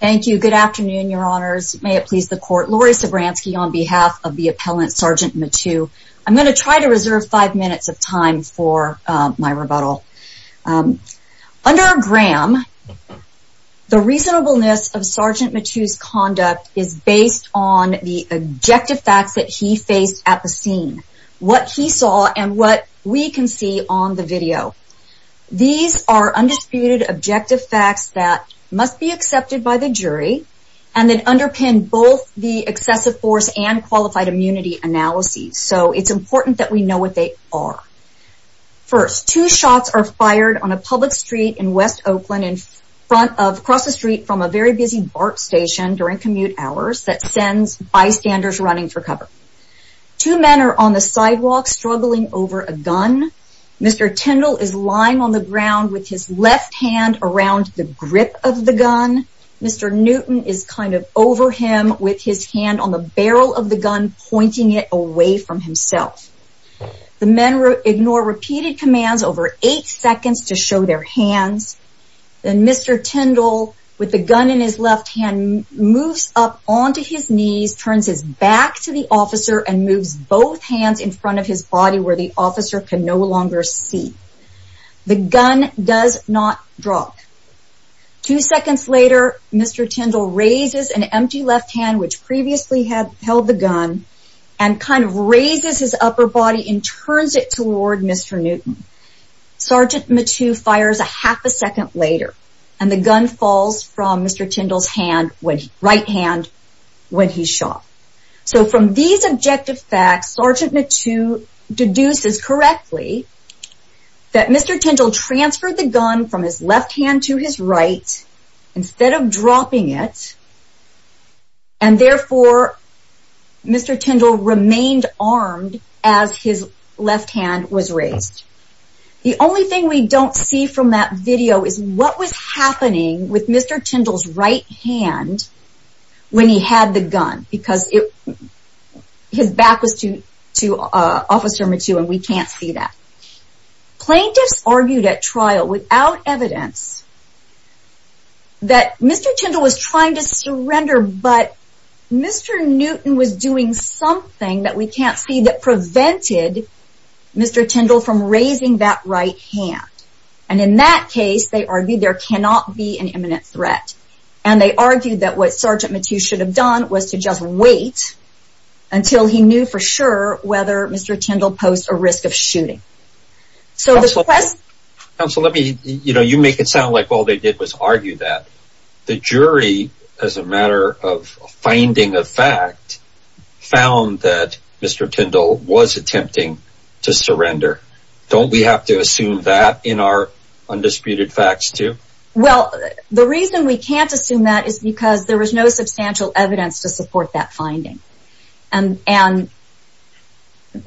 Thank you. Good afternoon, your honors. May it please the court. Laurie Sobranski on behalf of the appellant, Sgt. Mateu. I'm going to try to reserve five minutes of time for my rebuttal. Under Graham, the reasonableness of Sgt. Mateu's conduct is based on the objective facts that he faced at the scene. What he saw and what we can see on the video. These are undisputed objective facts that must be accepted by the jury, and that underpin both the excessive force and qualified immunity analyses. So it's important that we know what they are. First, two shots are fired on a public street in West Oakland across the street from a very busy BART station during commute hours that sends bystanders running for cover. Two men are on the sidewalk struggling over a gun. Mr. Tyndall is lying on the ground with his left hand around the grip of the gun. Mr. Newton is kind of over him with his hand on the barrel of the gun, pointing it away from himself. The men ignore repeated commands over eight seconds to show their hands. Then Mr. Tyndall, with the gun in his left hand, moves up onto his knees, turns his back to the officer and moves both hands in front of his body where the officer can no longer see. The gun does not drop. Two seconds later, Mr. Tyndall raises an empty left hand, which previously held the gun, and kind of raises his upper body and turns it toward Mr. Newton. Sgt. Mathieu fires a half a second later, and the gun falls from Mr. Tyndall's right hand when he's shot. So from these objective facts, Sgt. Mathieu deduces correctly that Mr. Tyndall transferred the gun from his left hand to his right instead of dropping it, and therefore Mr. Tyndall remained armed as his left hand was raised. The only thing we don't see from that video is what was happening with Mr. Tyndall's right hand when he had the gun, because his back was to Sgt. Mathieu and we can't see that. Plaintiffs argued at trial without evidence that Mr. Tyndall was trying to surrender, but Mr. Newton was doing something that we can't see that prevented Mr. Tyndall from raising that right hand. And in that case, they argued there cannot be an imminent threat. And they argued that what Sgt. Mathieu should have done was to just wait until he knew for sure whether Mr. Tyndall posed a risk of shooting. You make it sound like all they did was argue that. The jury, as a matter of finding a fact, found that Mr. Tyndall was attempting to surrender. Don't we have to assume that in our undisputed facts too? Well, the reason we can't assume that is because there was no substantial evidence to support that finding. And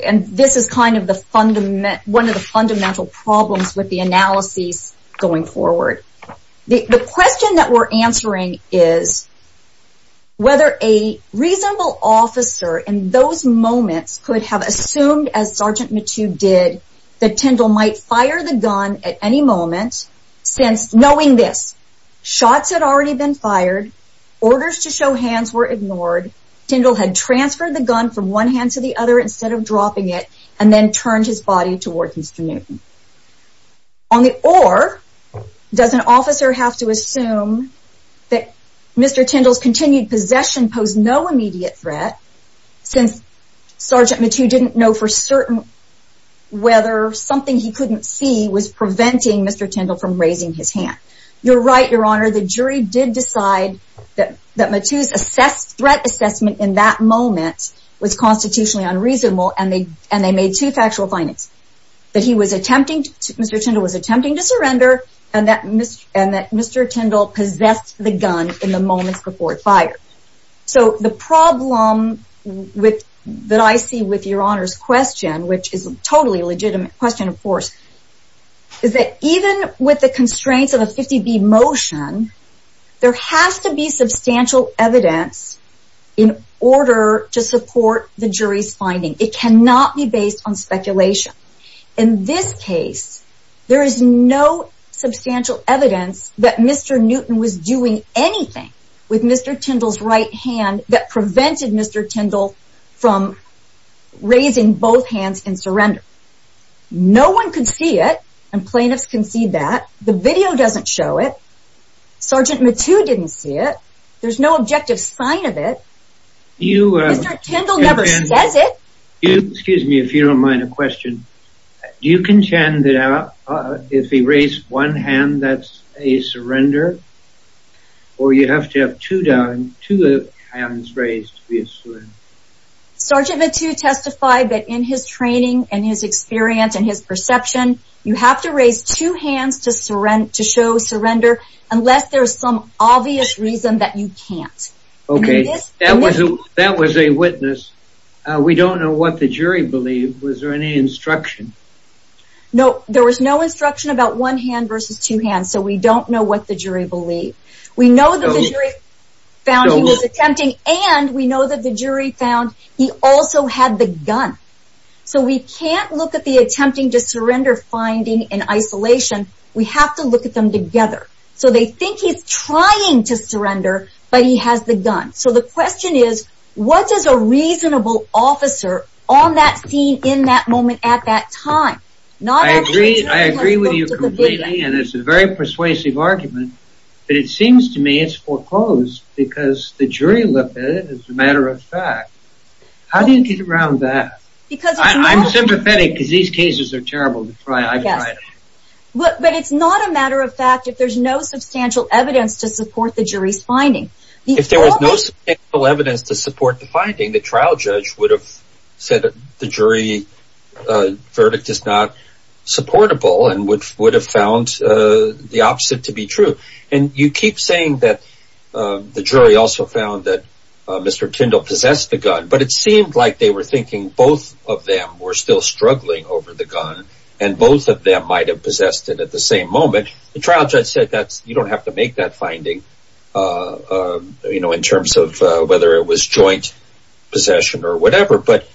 this is one of the fundamental problems with the analyses going forward. The question that we're answering is whether a reasonable officer in those moments could have assumed, as Sgt. Mathieu did, that Tyndall might fire the gun at any moment since, knowing this, shots had already been fired, orders to show hands were ignored, Tyndall had transferred the gun from one hand to the other instead of dropping it, and then turned his body towards Mr. Newton. Or, does an officer have to assume that Mr. Tyndall's continued possession posed no immediate threat, since Sgt. Mathieu didn't know for certain whether something he couldn't see was preventing Mr. Tyndall from raising his hand. You're right, Your Honor, the jury did decide that Mathieu's threat assessment in that moment was constitutionally unreasonable, and they made two factual findings. That Mr. Tyndall was attempting to surrender, and that Mr. Tyndall possessed the gun in the moments before it fired. So, the problem that I see with Your Honor's question, which is a totally legitimate question, of course, is that even with the constraints of a 50-B motion, there has to be substantial evidence in order to support the jury's finding. It cannot be based on speculation. In this case, there is no substantial evidence that Mr. Newton was doing anything with Mr. Tyndall's right hand that prevented Mr. Tyndall from raising both hands in surrender. No one could see it, and plaintiffs can see that. The video doesn't show it. Sgt. Mathieu didn't see it. There's no objective sign of it. Mr. Tyndall never says it. Excuse me if you don't mind a question. Do you contend that if he raised one hand, that's a surrender? Or you have to have two hands raised to be a surrender? Sgt. Mathieu testified that in his training and his experience and his perception, you have to raise two hands to show surrender unless there's some obvious reason that you can't. Okay, that was a witness. We don't know what the jury believed. Was there any instruction? No, there was no instruction about one hand versus two hands, so we don't know what the jury believed. We know that the jury found he was attempting, and we know that the jury found he also had the gun. So we can't look at the attempting to surrender finding in isolation. We have to look at them together. So they think he's trying to surrender, but he has the gun. So the question is, what is a reasonable officer on that scene, in that moment, at that time? I agree with you completely, and it's a very persuasive argument, but it seems to me it's foreclosed because the jury looked at it as a matter of fact. How do you get around that? I'm sympathetic because these cases are terrible to try. But it's not a matter of fact if there's no substantial evidence to support the jury's finding. If there was no substantial evidence to support the finding, the trial judge would have said the jury verdict is not supportable and would have found the opposite to be true. And you keep saying that the jury also found that Mr. Tyndall possessed the gun, but it seemed like they were thinking both of them were still struggling over the gun and both of them might have possessed it at the same moment. The trial judge said you don't have to make that finding in terms of whether it was joint possession or whatever. But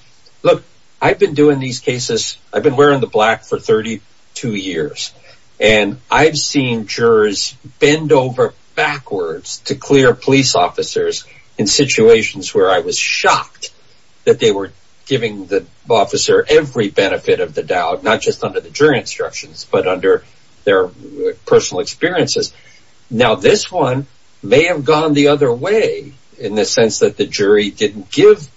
look, I've been wearing the black for 32 years, and I've seen jurors bend over backwards to clear police officers in situations where I was shocked that they were giving the officer every benefit of the doubt, not just under the jury instructions, but under their personal experiences. Now, this one may have gone the other way in the sense that the jury didn't give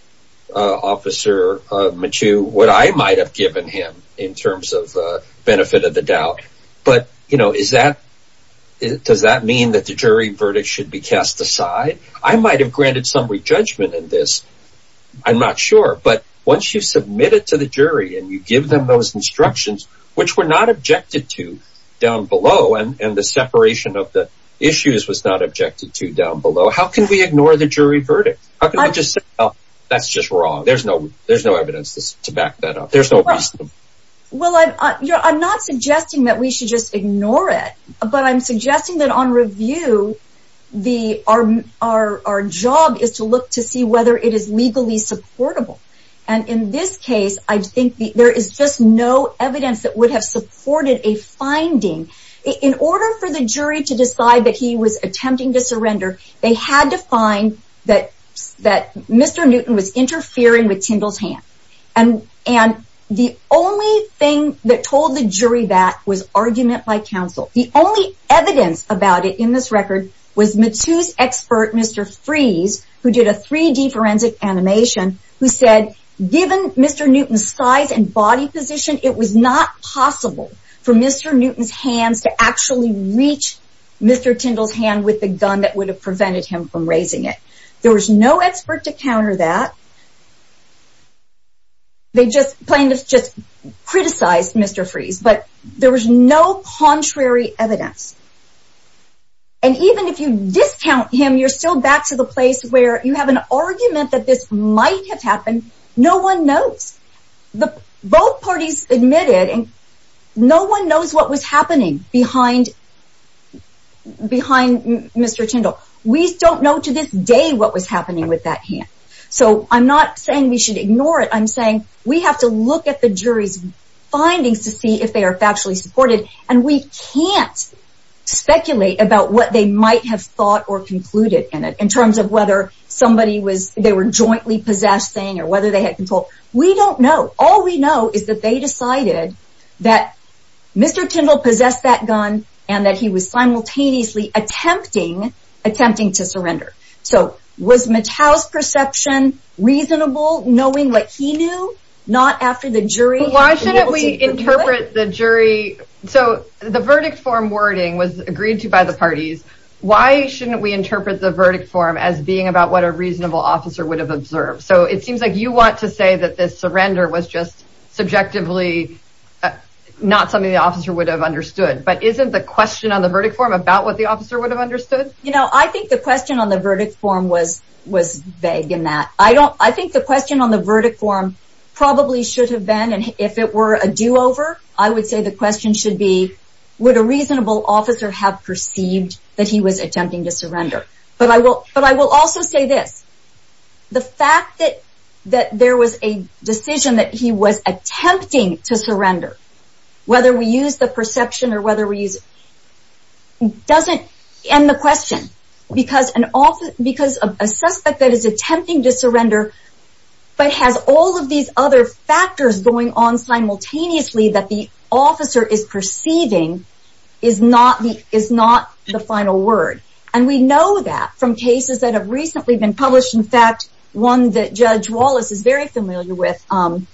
Officer Michoud what I might have given him in terms of the benefit of the doubt. But does that mean that the jury verdict should be cast aside? I might have granted some re-judgment in this. I'm not sure. But once you submit it to the jury and you give them those instructions, which were not objected to down below, and the separation of the issues was not objected to down below, how can we ignore the jury verdict? How can we just say, well, that's just wrong? There's no evidence to back that up. There's no reason. Well, I'm not suggesting that we should just ignore it, but I'm suggesting that on review, our job is to look to see whether it is legally supportable. And in this case, I think there is just no evidence that would have supported a finding. In order for the jury to decide that he was attempting to surrender, they had to find that Mr. Newton was interfering with Tyndall's hand. And the only thing that told the jury that was argument by counsel. The only evidence about it in this record was Matus' expert, Mr. Freeze, who did a 3D forensic animation, who said, given Mr. Newton's size and body position, it was not possible for Mr. Newton's hands to actually reach Mr. Tyndall's hand with the gun that would have prevented him from raising it. There was no expert to counter that. They just plain criticized Mr. Freeze, but there was no contrary evidence. And even if you discount him, you're still back to the place where you have an argument that this might have happened. No one knows. Both parties admitted, and no one knows what was happening behind Mr. Tyndall. We don't know to this day what was happening with that hand. So I'm not saying we should ignore it. I'm saying we have to look at the jury's findings to see if they are factually supported, and we can't speculate about what they might have thought or concluded in it, in terms of whether they were jointly possessing or whether they had control. We don't know. All we know is that they decided that Mr. Tyndall possessed that gun and that he was simultaneously attempting to surrender. So was Mattel's perception reasonable, knowing what he knew, not after the jury? Why shouldn't we interpret the jury? So the verdict form wording was agreed to by the parties. Why shouldn't we interpret the verdict form as being about what a reasonable officer would have observed? So it seems like you want to say that this surrender was just subjectively not something the officer would have understood. But isn't the question on the verdict form about what the officer would have understood? You know, I think the question on the verdict form was vague in that. I think the question on the verdict form probably should have been, and if it were a do-over, I would say the question should be, would a reasonable officer have perceived that he was attempting to surrender? But I will also say this. The fact that there was a decision that he was attempting to surrender, whether we use the perception or whether we use it, doesn't end the question. Because a suspect that is attempting to surrender, but has all of these other factors going on simultaneously that the officer is perceiving, is not the final word. And we know that from cases that have recently been published. In fact, one that Judge Wallace is very familiar with, Amons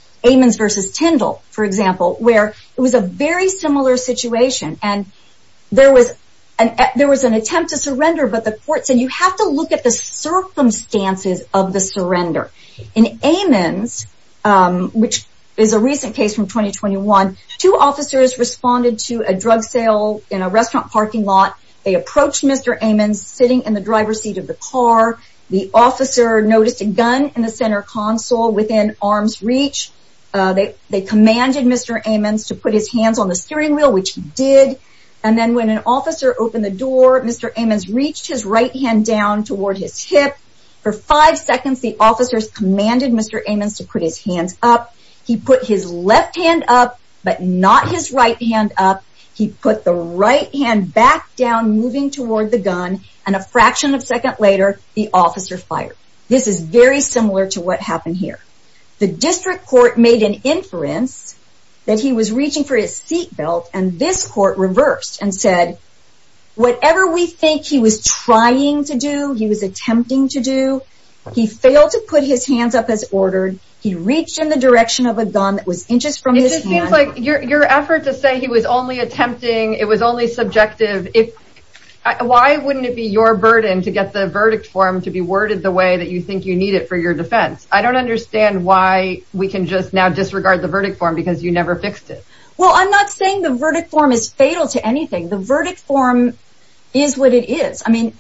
v. Tyndall, for example, where it was a very similar situation. And there was an attempt to surrender, but the court said, you have to look at the circumstances of the surrender. In Amons, which is a recent case from 2021, two officers responded to a drug sale in a restaurant parking lot. They approached Mr. Amons sitting in the driver's seat of the car. The officer noticed a gun in the center console within arm's reach. They commanded Mr. Amons to put his hands on the steering wheel, which he did. And then when an officer opened the door, Mr. Amons reached his right hand down toward his hip. For five seconds, the officers commanded Mr. Amons to put his hands up. He put his left hand up, but not his right hand up. He put the right hand back down, moving toward the gun. And a fraction of a second later, the officer fired. This is very similar to what happened here. The district court made an inference that he was reaching for his seat belt, and this court reversed and said, whatever we think he was trying to do, he was attempting to do, he failed to put his hands up as ordered. He reached in the direction of a gun that was inches from his hand. It just seems like your effort to say he was only attempting, it was only subjective, why wouldn't it be your burden to get the verdict form to be worded the way that you think you need it for your defense? I don't understand why we can just now disregard the verdict form, because you never fixed it. Well, I'm not saying the verdict form is fatal to anything. The verdict form is what it is. I mean,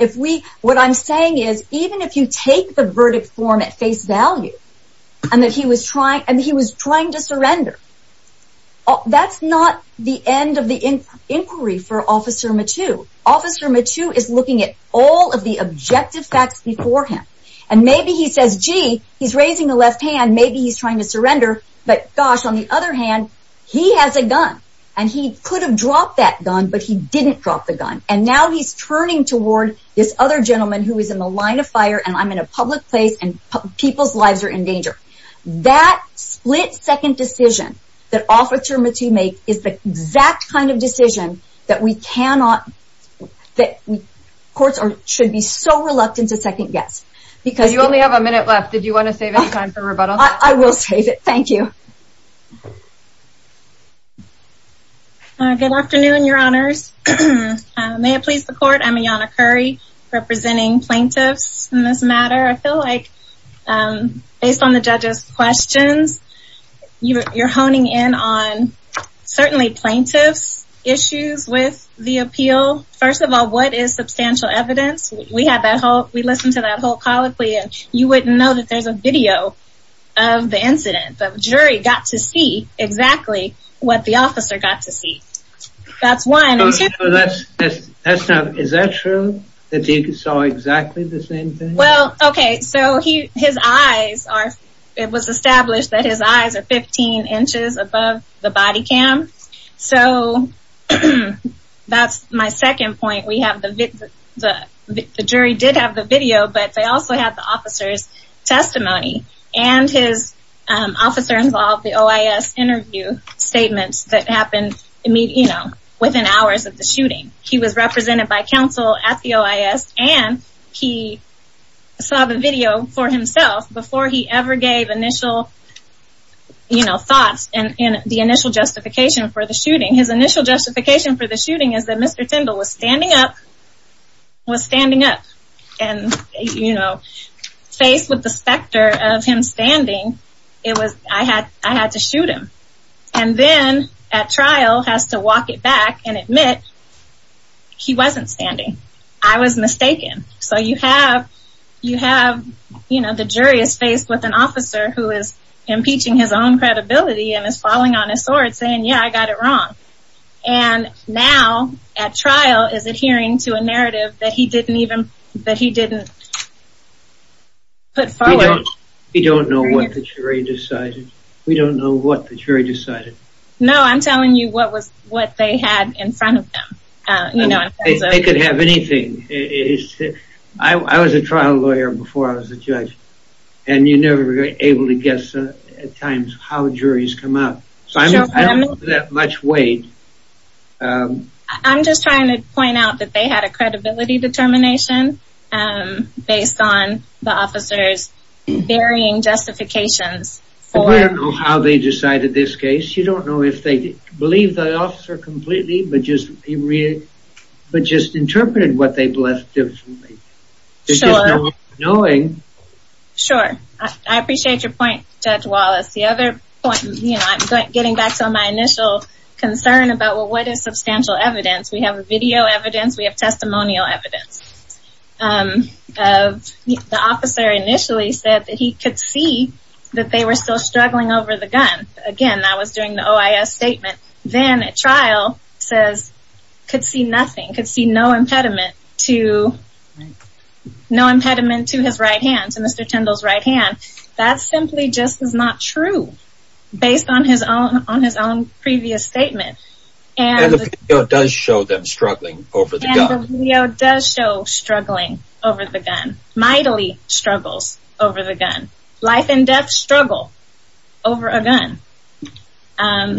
what I'm saying is, even if you take the verdict form at face value, and that he was trying to surrender, that's not the end of the inquiry for Officer Mattu. Officer Mattu is looking at all of the objective facts before him. And maybe he says, gee, he's raising the left hand, maybe he's trying to surrender, but gosh, on the other hand, he has a gun. And he could have dropped that gun, but he didn't drop the gun. And now he's turning toward this other gentleman who is in the line of fire, and I'm in a public place, and people's lives are in danger. That split second decision that Officer Mattu made is the exact kind of decision that we cannot, that courts should be so reluctant to second guess. You only have a minute left. Did you want to save any time for rebuttal? I will save it. Thank you. Good afternoon, Your Honors. May it please the Court, I'm Ayanna Curry, representing plaintiffs in this matter. I feel like, based on the judges' questions, you're honing in on certainly plaintiffs' issues with the appeal. First of all, what is substantial evidence? We had that whole, we listened to that whole colloquy, and you wouldn't know that there's a video of the incident. The jury got to see exactly what the officer got to see. That's one. Is that true, that he saw exactly the same thing? Well, okay, so his eyes are, it was established that his eyes are 15 inches above the body cam. So, that's my second point. We have the, the jury did have the video, but they also had the officer's testimony, and his officer involved the OIS interview statements that happened, you know, within hours of the shooting. He was represented by counsel at the OIS, and he saw the video for himself before he ever gave initial, you know, thoughts in the initial justification for the shooting. His initial justification for the shooting is that Mr. Tyndall was standing up, was standing up. And, you know, faced with the specter of him standing, it was, I had, I had to shoot him. And then, at trial, has to walk it back and admit he wasn't standing. I was mistaken. So, you have, you have, you know, the jury is faced with an officer who is impeaching his own credibility and is falling on his sword saying, yeah, I got it wrong. And now, at trial, is adhering to a narrative that he didn't even, that he didn't put forward. We don't know what the jury decided. We don't know what the jury decided. No, I'm telling you what was, what they had in front of them. They could have anything. I was a trial lawyer before I was a judge. And you're never able to guess, at times, how juries come up. So, I don't have that much weight. I'm just trying to point out that they had a credibility determination based on the officer's varying justifications. We don't know how they decided this case. You don't know if they believe the officer completely, but just interpreted what they blessed differently. Sure. Knowing. Sure. I appreciate your point, Judge Wallace. The other point, you know, I'm getting back to my initial concern about, well, what is substantial evidence? We have video evidence. We have testimonial evidence. The officer initially said that he could see that they were still struggling over the gun. Again, I was doing the OIS statement. Then, at trial, says, could see nothing, could see no impediment to his right hand, to Mr. Tyndall's right hand. That simply just is not true, based on his own previous statement. And the video does show them struggling over the gun. And the video does show struggling over the gun. Mightily struggles over the gun. Life and death struggle over a gun.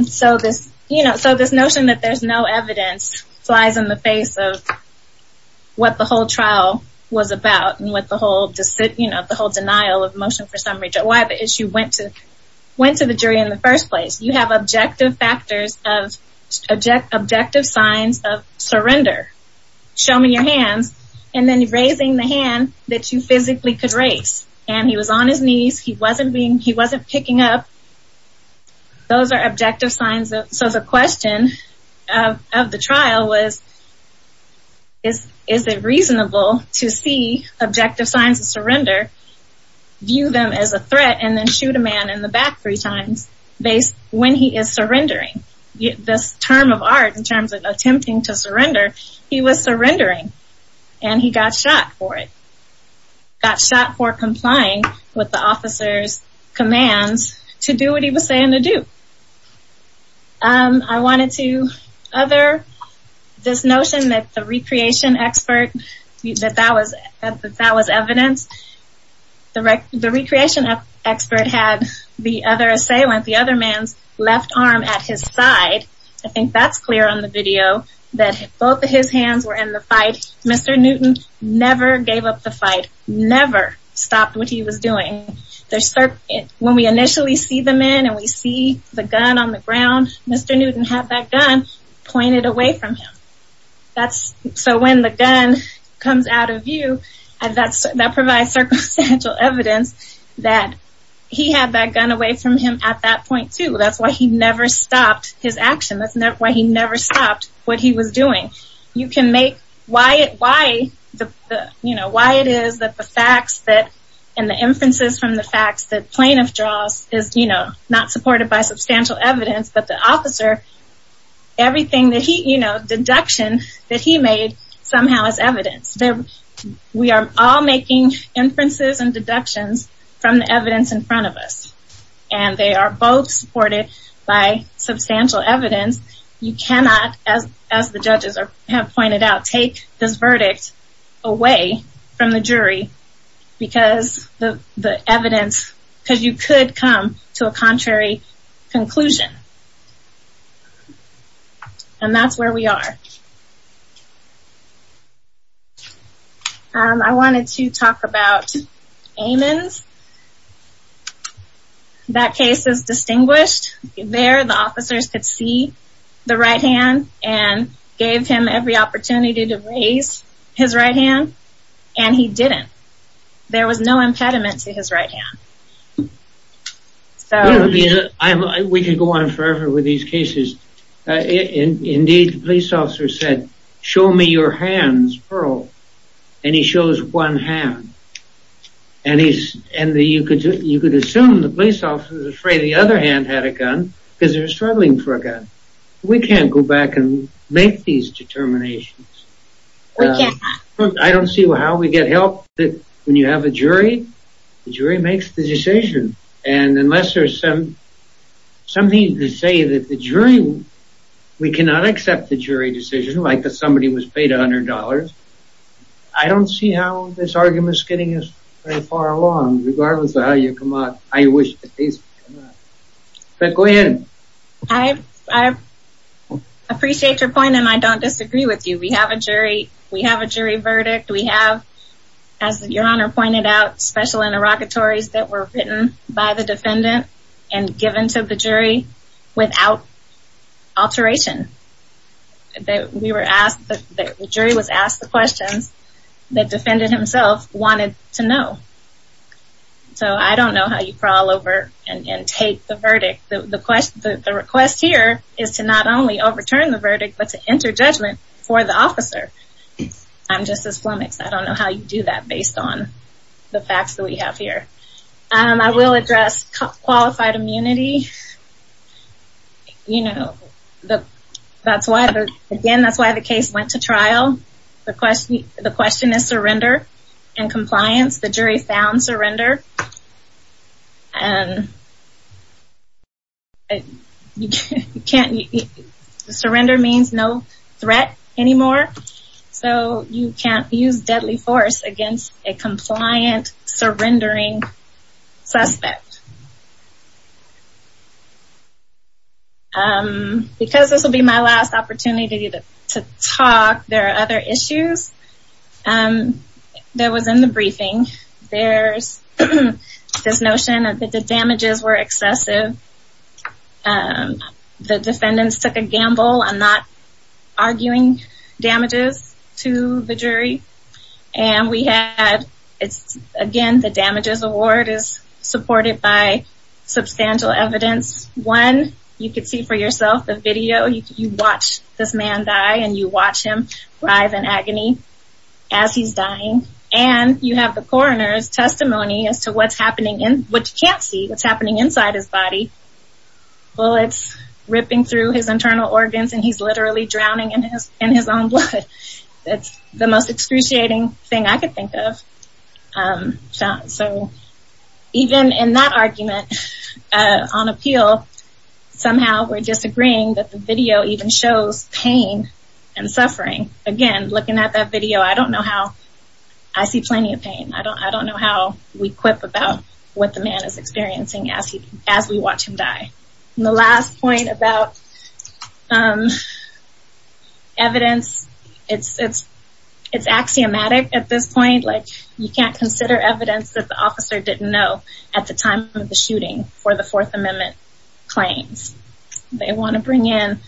So this notion that there's no evidence flies in the face of what the whole trial was about and what the whole denial of motion for summary, why the issue went to the jury in the first place. You have objective factors of objective signs of surrender. Show me your hands. And then raising the hand that you physically could raise. And he was on his knees. He wasn't picking up. Those are objective signs. So the question of the trial was, is it reasonable to see objective signs of surrender, view them as a threat, and then shoot a man in the back three times when he is surrendering. This term of art in terms of attempting to surrender, he was surrendering. And he got shot for it. Got shot for complying with the officer's commands to do what he was saying to do. I wanted to other this notion that the recreation expert, that that was evidence. The recreation expert had the other assailant, the other man's left arm at his side. I think that's clear on the video that both of his hands were in the fight. Mr. Newton never gave up the fight. Never stopped what he was doing. When we initially see the man and we see the gun on the ground, Mr. Newton had that gun pointed away from him. So when the gun comes out of view, that provides circumstantial evidence that he had that gun away from him at that point, too. That's why he never stopped his action. That's why he never stopped what he was doing. You can make, why it is that the facts and the inferences from the facts that plaintiff draws is not supported by substantial evidence, but the officer, everything that he, you know, deduction that he made somehow is evidence. We are all making inferences and deductions from the evidence in front of us. And they are both supported by substantial evidence. You cannot, as the judges have pointed out, take this verdict away from the jury because the evidence, because you could come to a contrary conclusion. And that's where we are. I wanted to talk about Amon's. That case is distinguished. There the officers could see the right hand and gave him every opportunity to raise his right hand and he didn't. There was no impediment to his right hand. We could go on forever with these cases. Indeed, the police officer said, show me your hands, Pearl. And he shows one hand. And you could assume the police officer was afraid the other hand had a gun because they were struggling for a gun. We can't go back and make these determinations. I don't see how we get help when you have a jury. The jury makes the decision. And unless there's something to say that the jury, we cannot accept the jury decision like that somebody was paid $100. I don't see how this argument is getting us very far along regardless of how you come out. I wish the case. But go ahead. I appreciate your point and I don't disagree with you. We have a jury. We have a jury verdict. We have, as your honor pointed out, special interrogatories that were written by the defendant and given to the jury without alteration. We were asked, the jury was asked the questions that the defendant himself wanted to know. So I don't know how you crawl over and take the verdict. The request here is to not only overturn the verdict but to enter judgment for the officer. I'm just as flummoxed. I don't know how you do that based on the facts that we have here. I will address qualified immunity. You know, that's why, again, that's why the case went to trial. The question is surrender and compliance. The jury found surrender. Surrender means no threat anymore. So you can't use deadly force against a compliant surrendering suspect. Because this will be my last opportunity to talk, there are other issues that was in the briefing. There's this notion that the damages were excessive. The defendants took a gamble on not arguing damages to the jury. And we had, again, the damages award is supported by substantial evidence. One, you can see for yourself the video. You watch this man die and you watch him writhe in agony as he's dying. And you have the coroner's testimony as to what's happening, what you can't see, what's happening inside his body. Bullets ripping through his internal organs and he's literally drowning in his own blood. That's the most excruciating thing I could think of. So even in that argument on appeal, somehow we're disagreeing that the video even shows pain and suffering. Again, looking at that video, I don't know how, I see plenty of pain. I don't know how we quip about what the man is experiencing as we watch him die. The last point about evidence, it's axiomatic at this point. You can't consider evidence that the officer didn't know at the time of the shooting for the Fourth Amendment claims. They want to bring in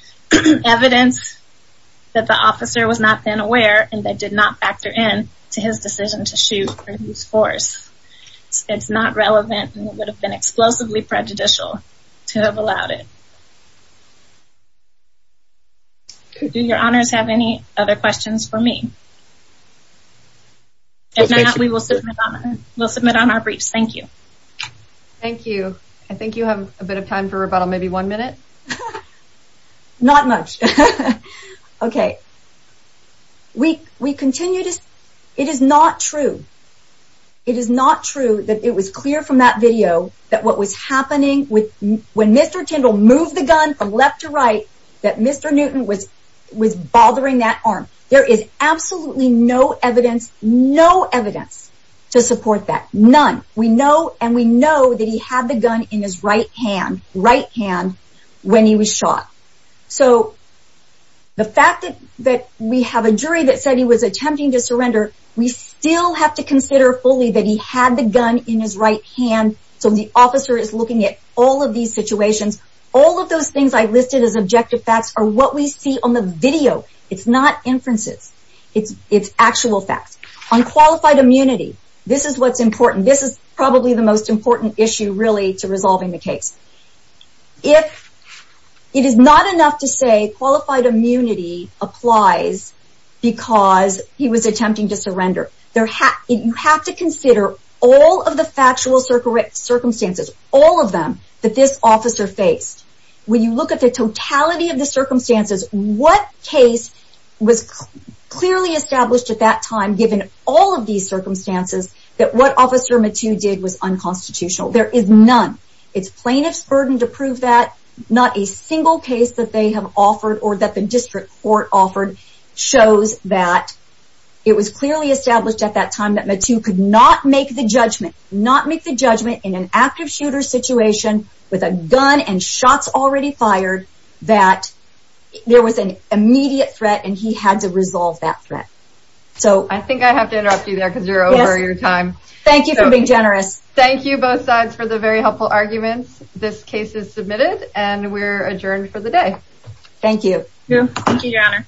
evidence that the officer was not then aware and they did not factor in to his decision to shoot or use force. It's not relevant and it would have been explosively prejudicial to have allowed it. Do your honors have any other questions for me? If not, we will submit on our briefs. Thank you. Thank you. I think you have a bit of time for rebuttal, maybe one minute? Not much. It is not true that it was clear from that video that what was happening when Mr. Tyndall moved the gun from left to right, that Mr. Newton was bothering that arm. There is absolutely no evidence to support that. None. We know and we know that he had the gun in his right hand when he was shot. The fact that we have a jury that said he was attempting to surrender, we still have to consider fully that he had the gun in his right hand. So the officer is looking at all of these situations. All of those things I listed as objective facts are what we see on the video. It's not inferences. It's actual facts. On qualified immunity, this is what's important. This is probably the most important issue really to resolving the case. It is not enough to say qualified immunity applies because he was attempting to surrender. You have to consider all of the factual circumstances, all of them, that this officer faced. When you look at the totality of the circumstances, what case was clearly established at that time, given all of these circumstances, that what Officer Mattoo did was unconstitutional? There is none. It's plaintiff's burden to prove that. Not a single case that they have offered or that the district court offered shows that it was clearly established at that time that Mattoo could not make the judgment in an active shooter situation with a gun and shots already fired, that there was an immediate threat and he had to resolve that threat. I think I have to interrupt you there because you're over your time. Thank you for being generous. Thank you both sides for the very helpful arguments. This case is submitted and we're adjourned for the day. Thank you. Thank you, Your Honor.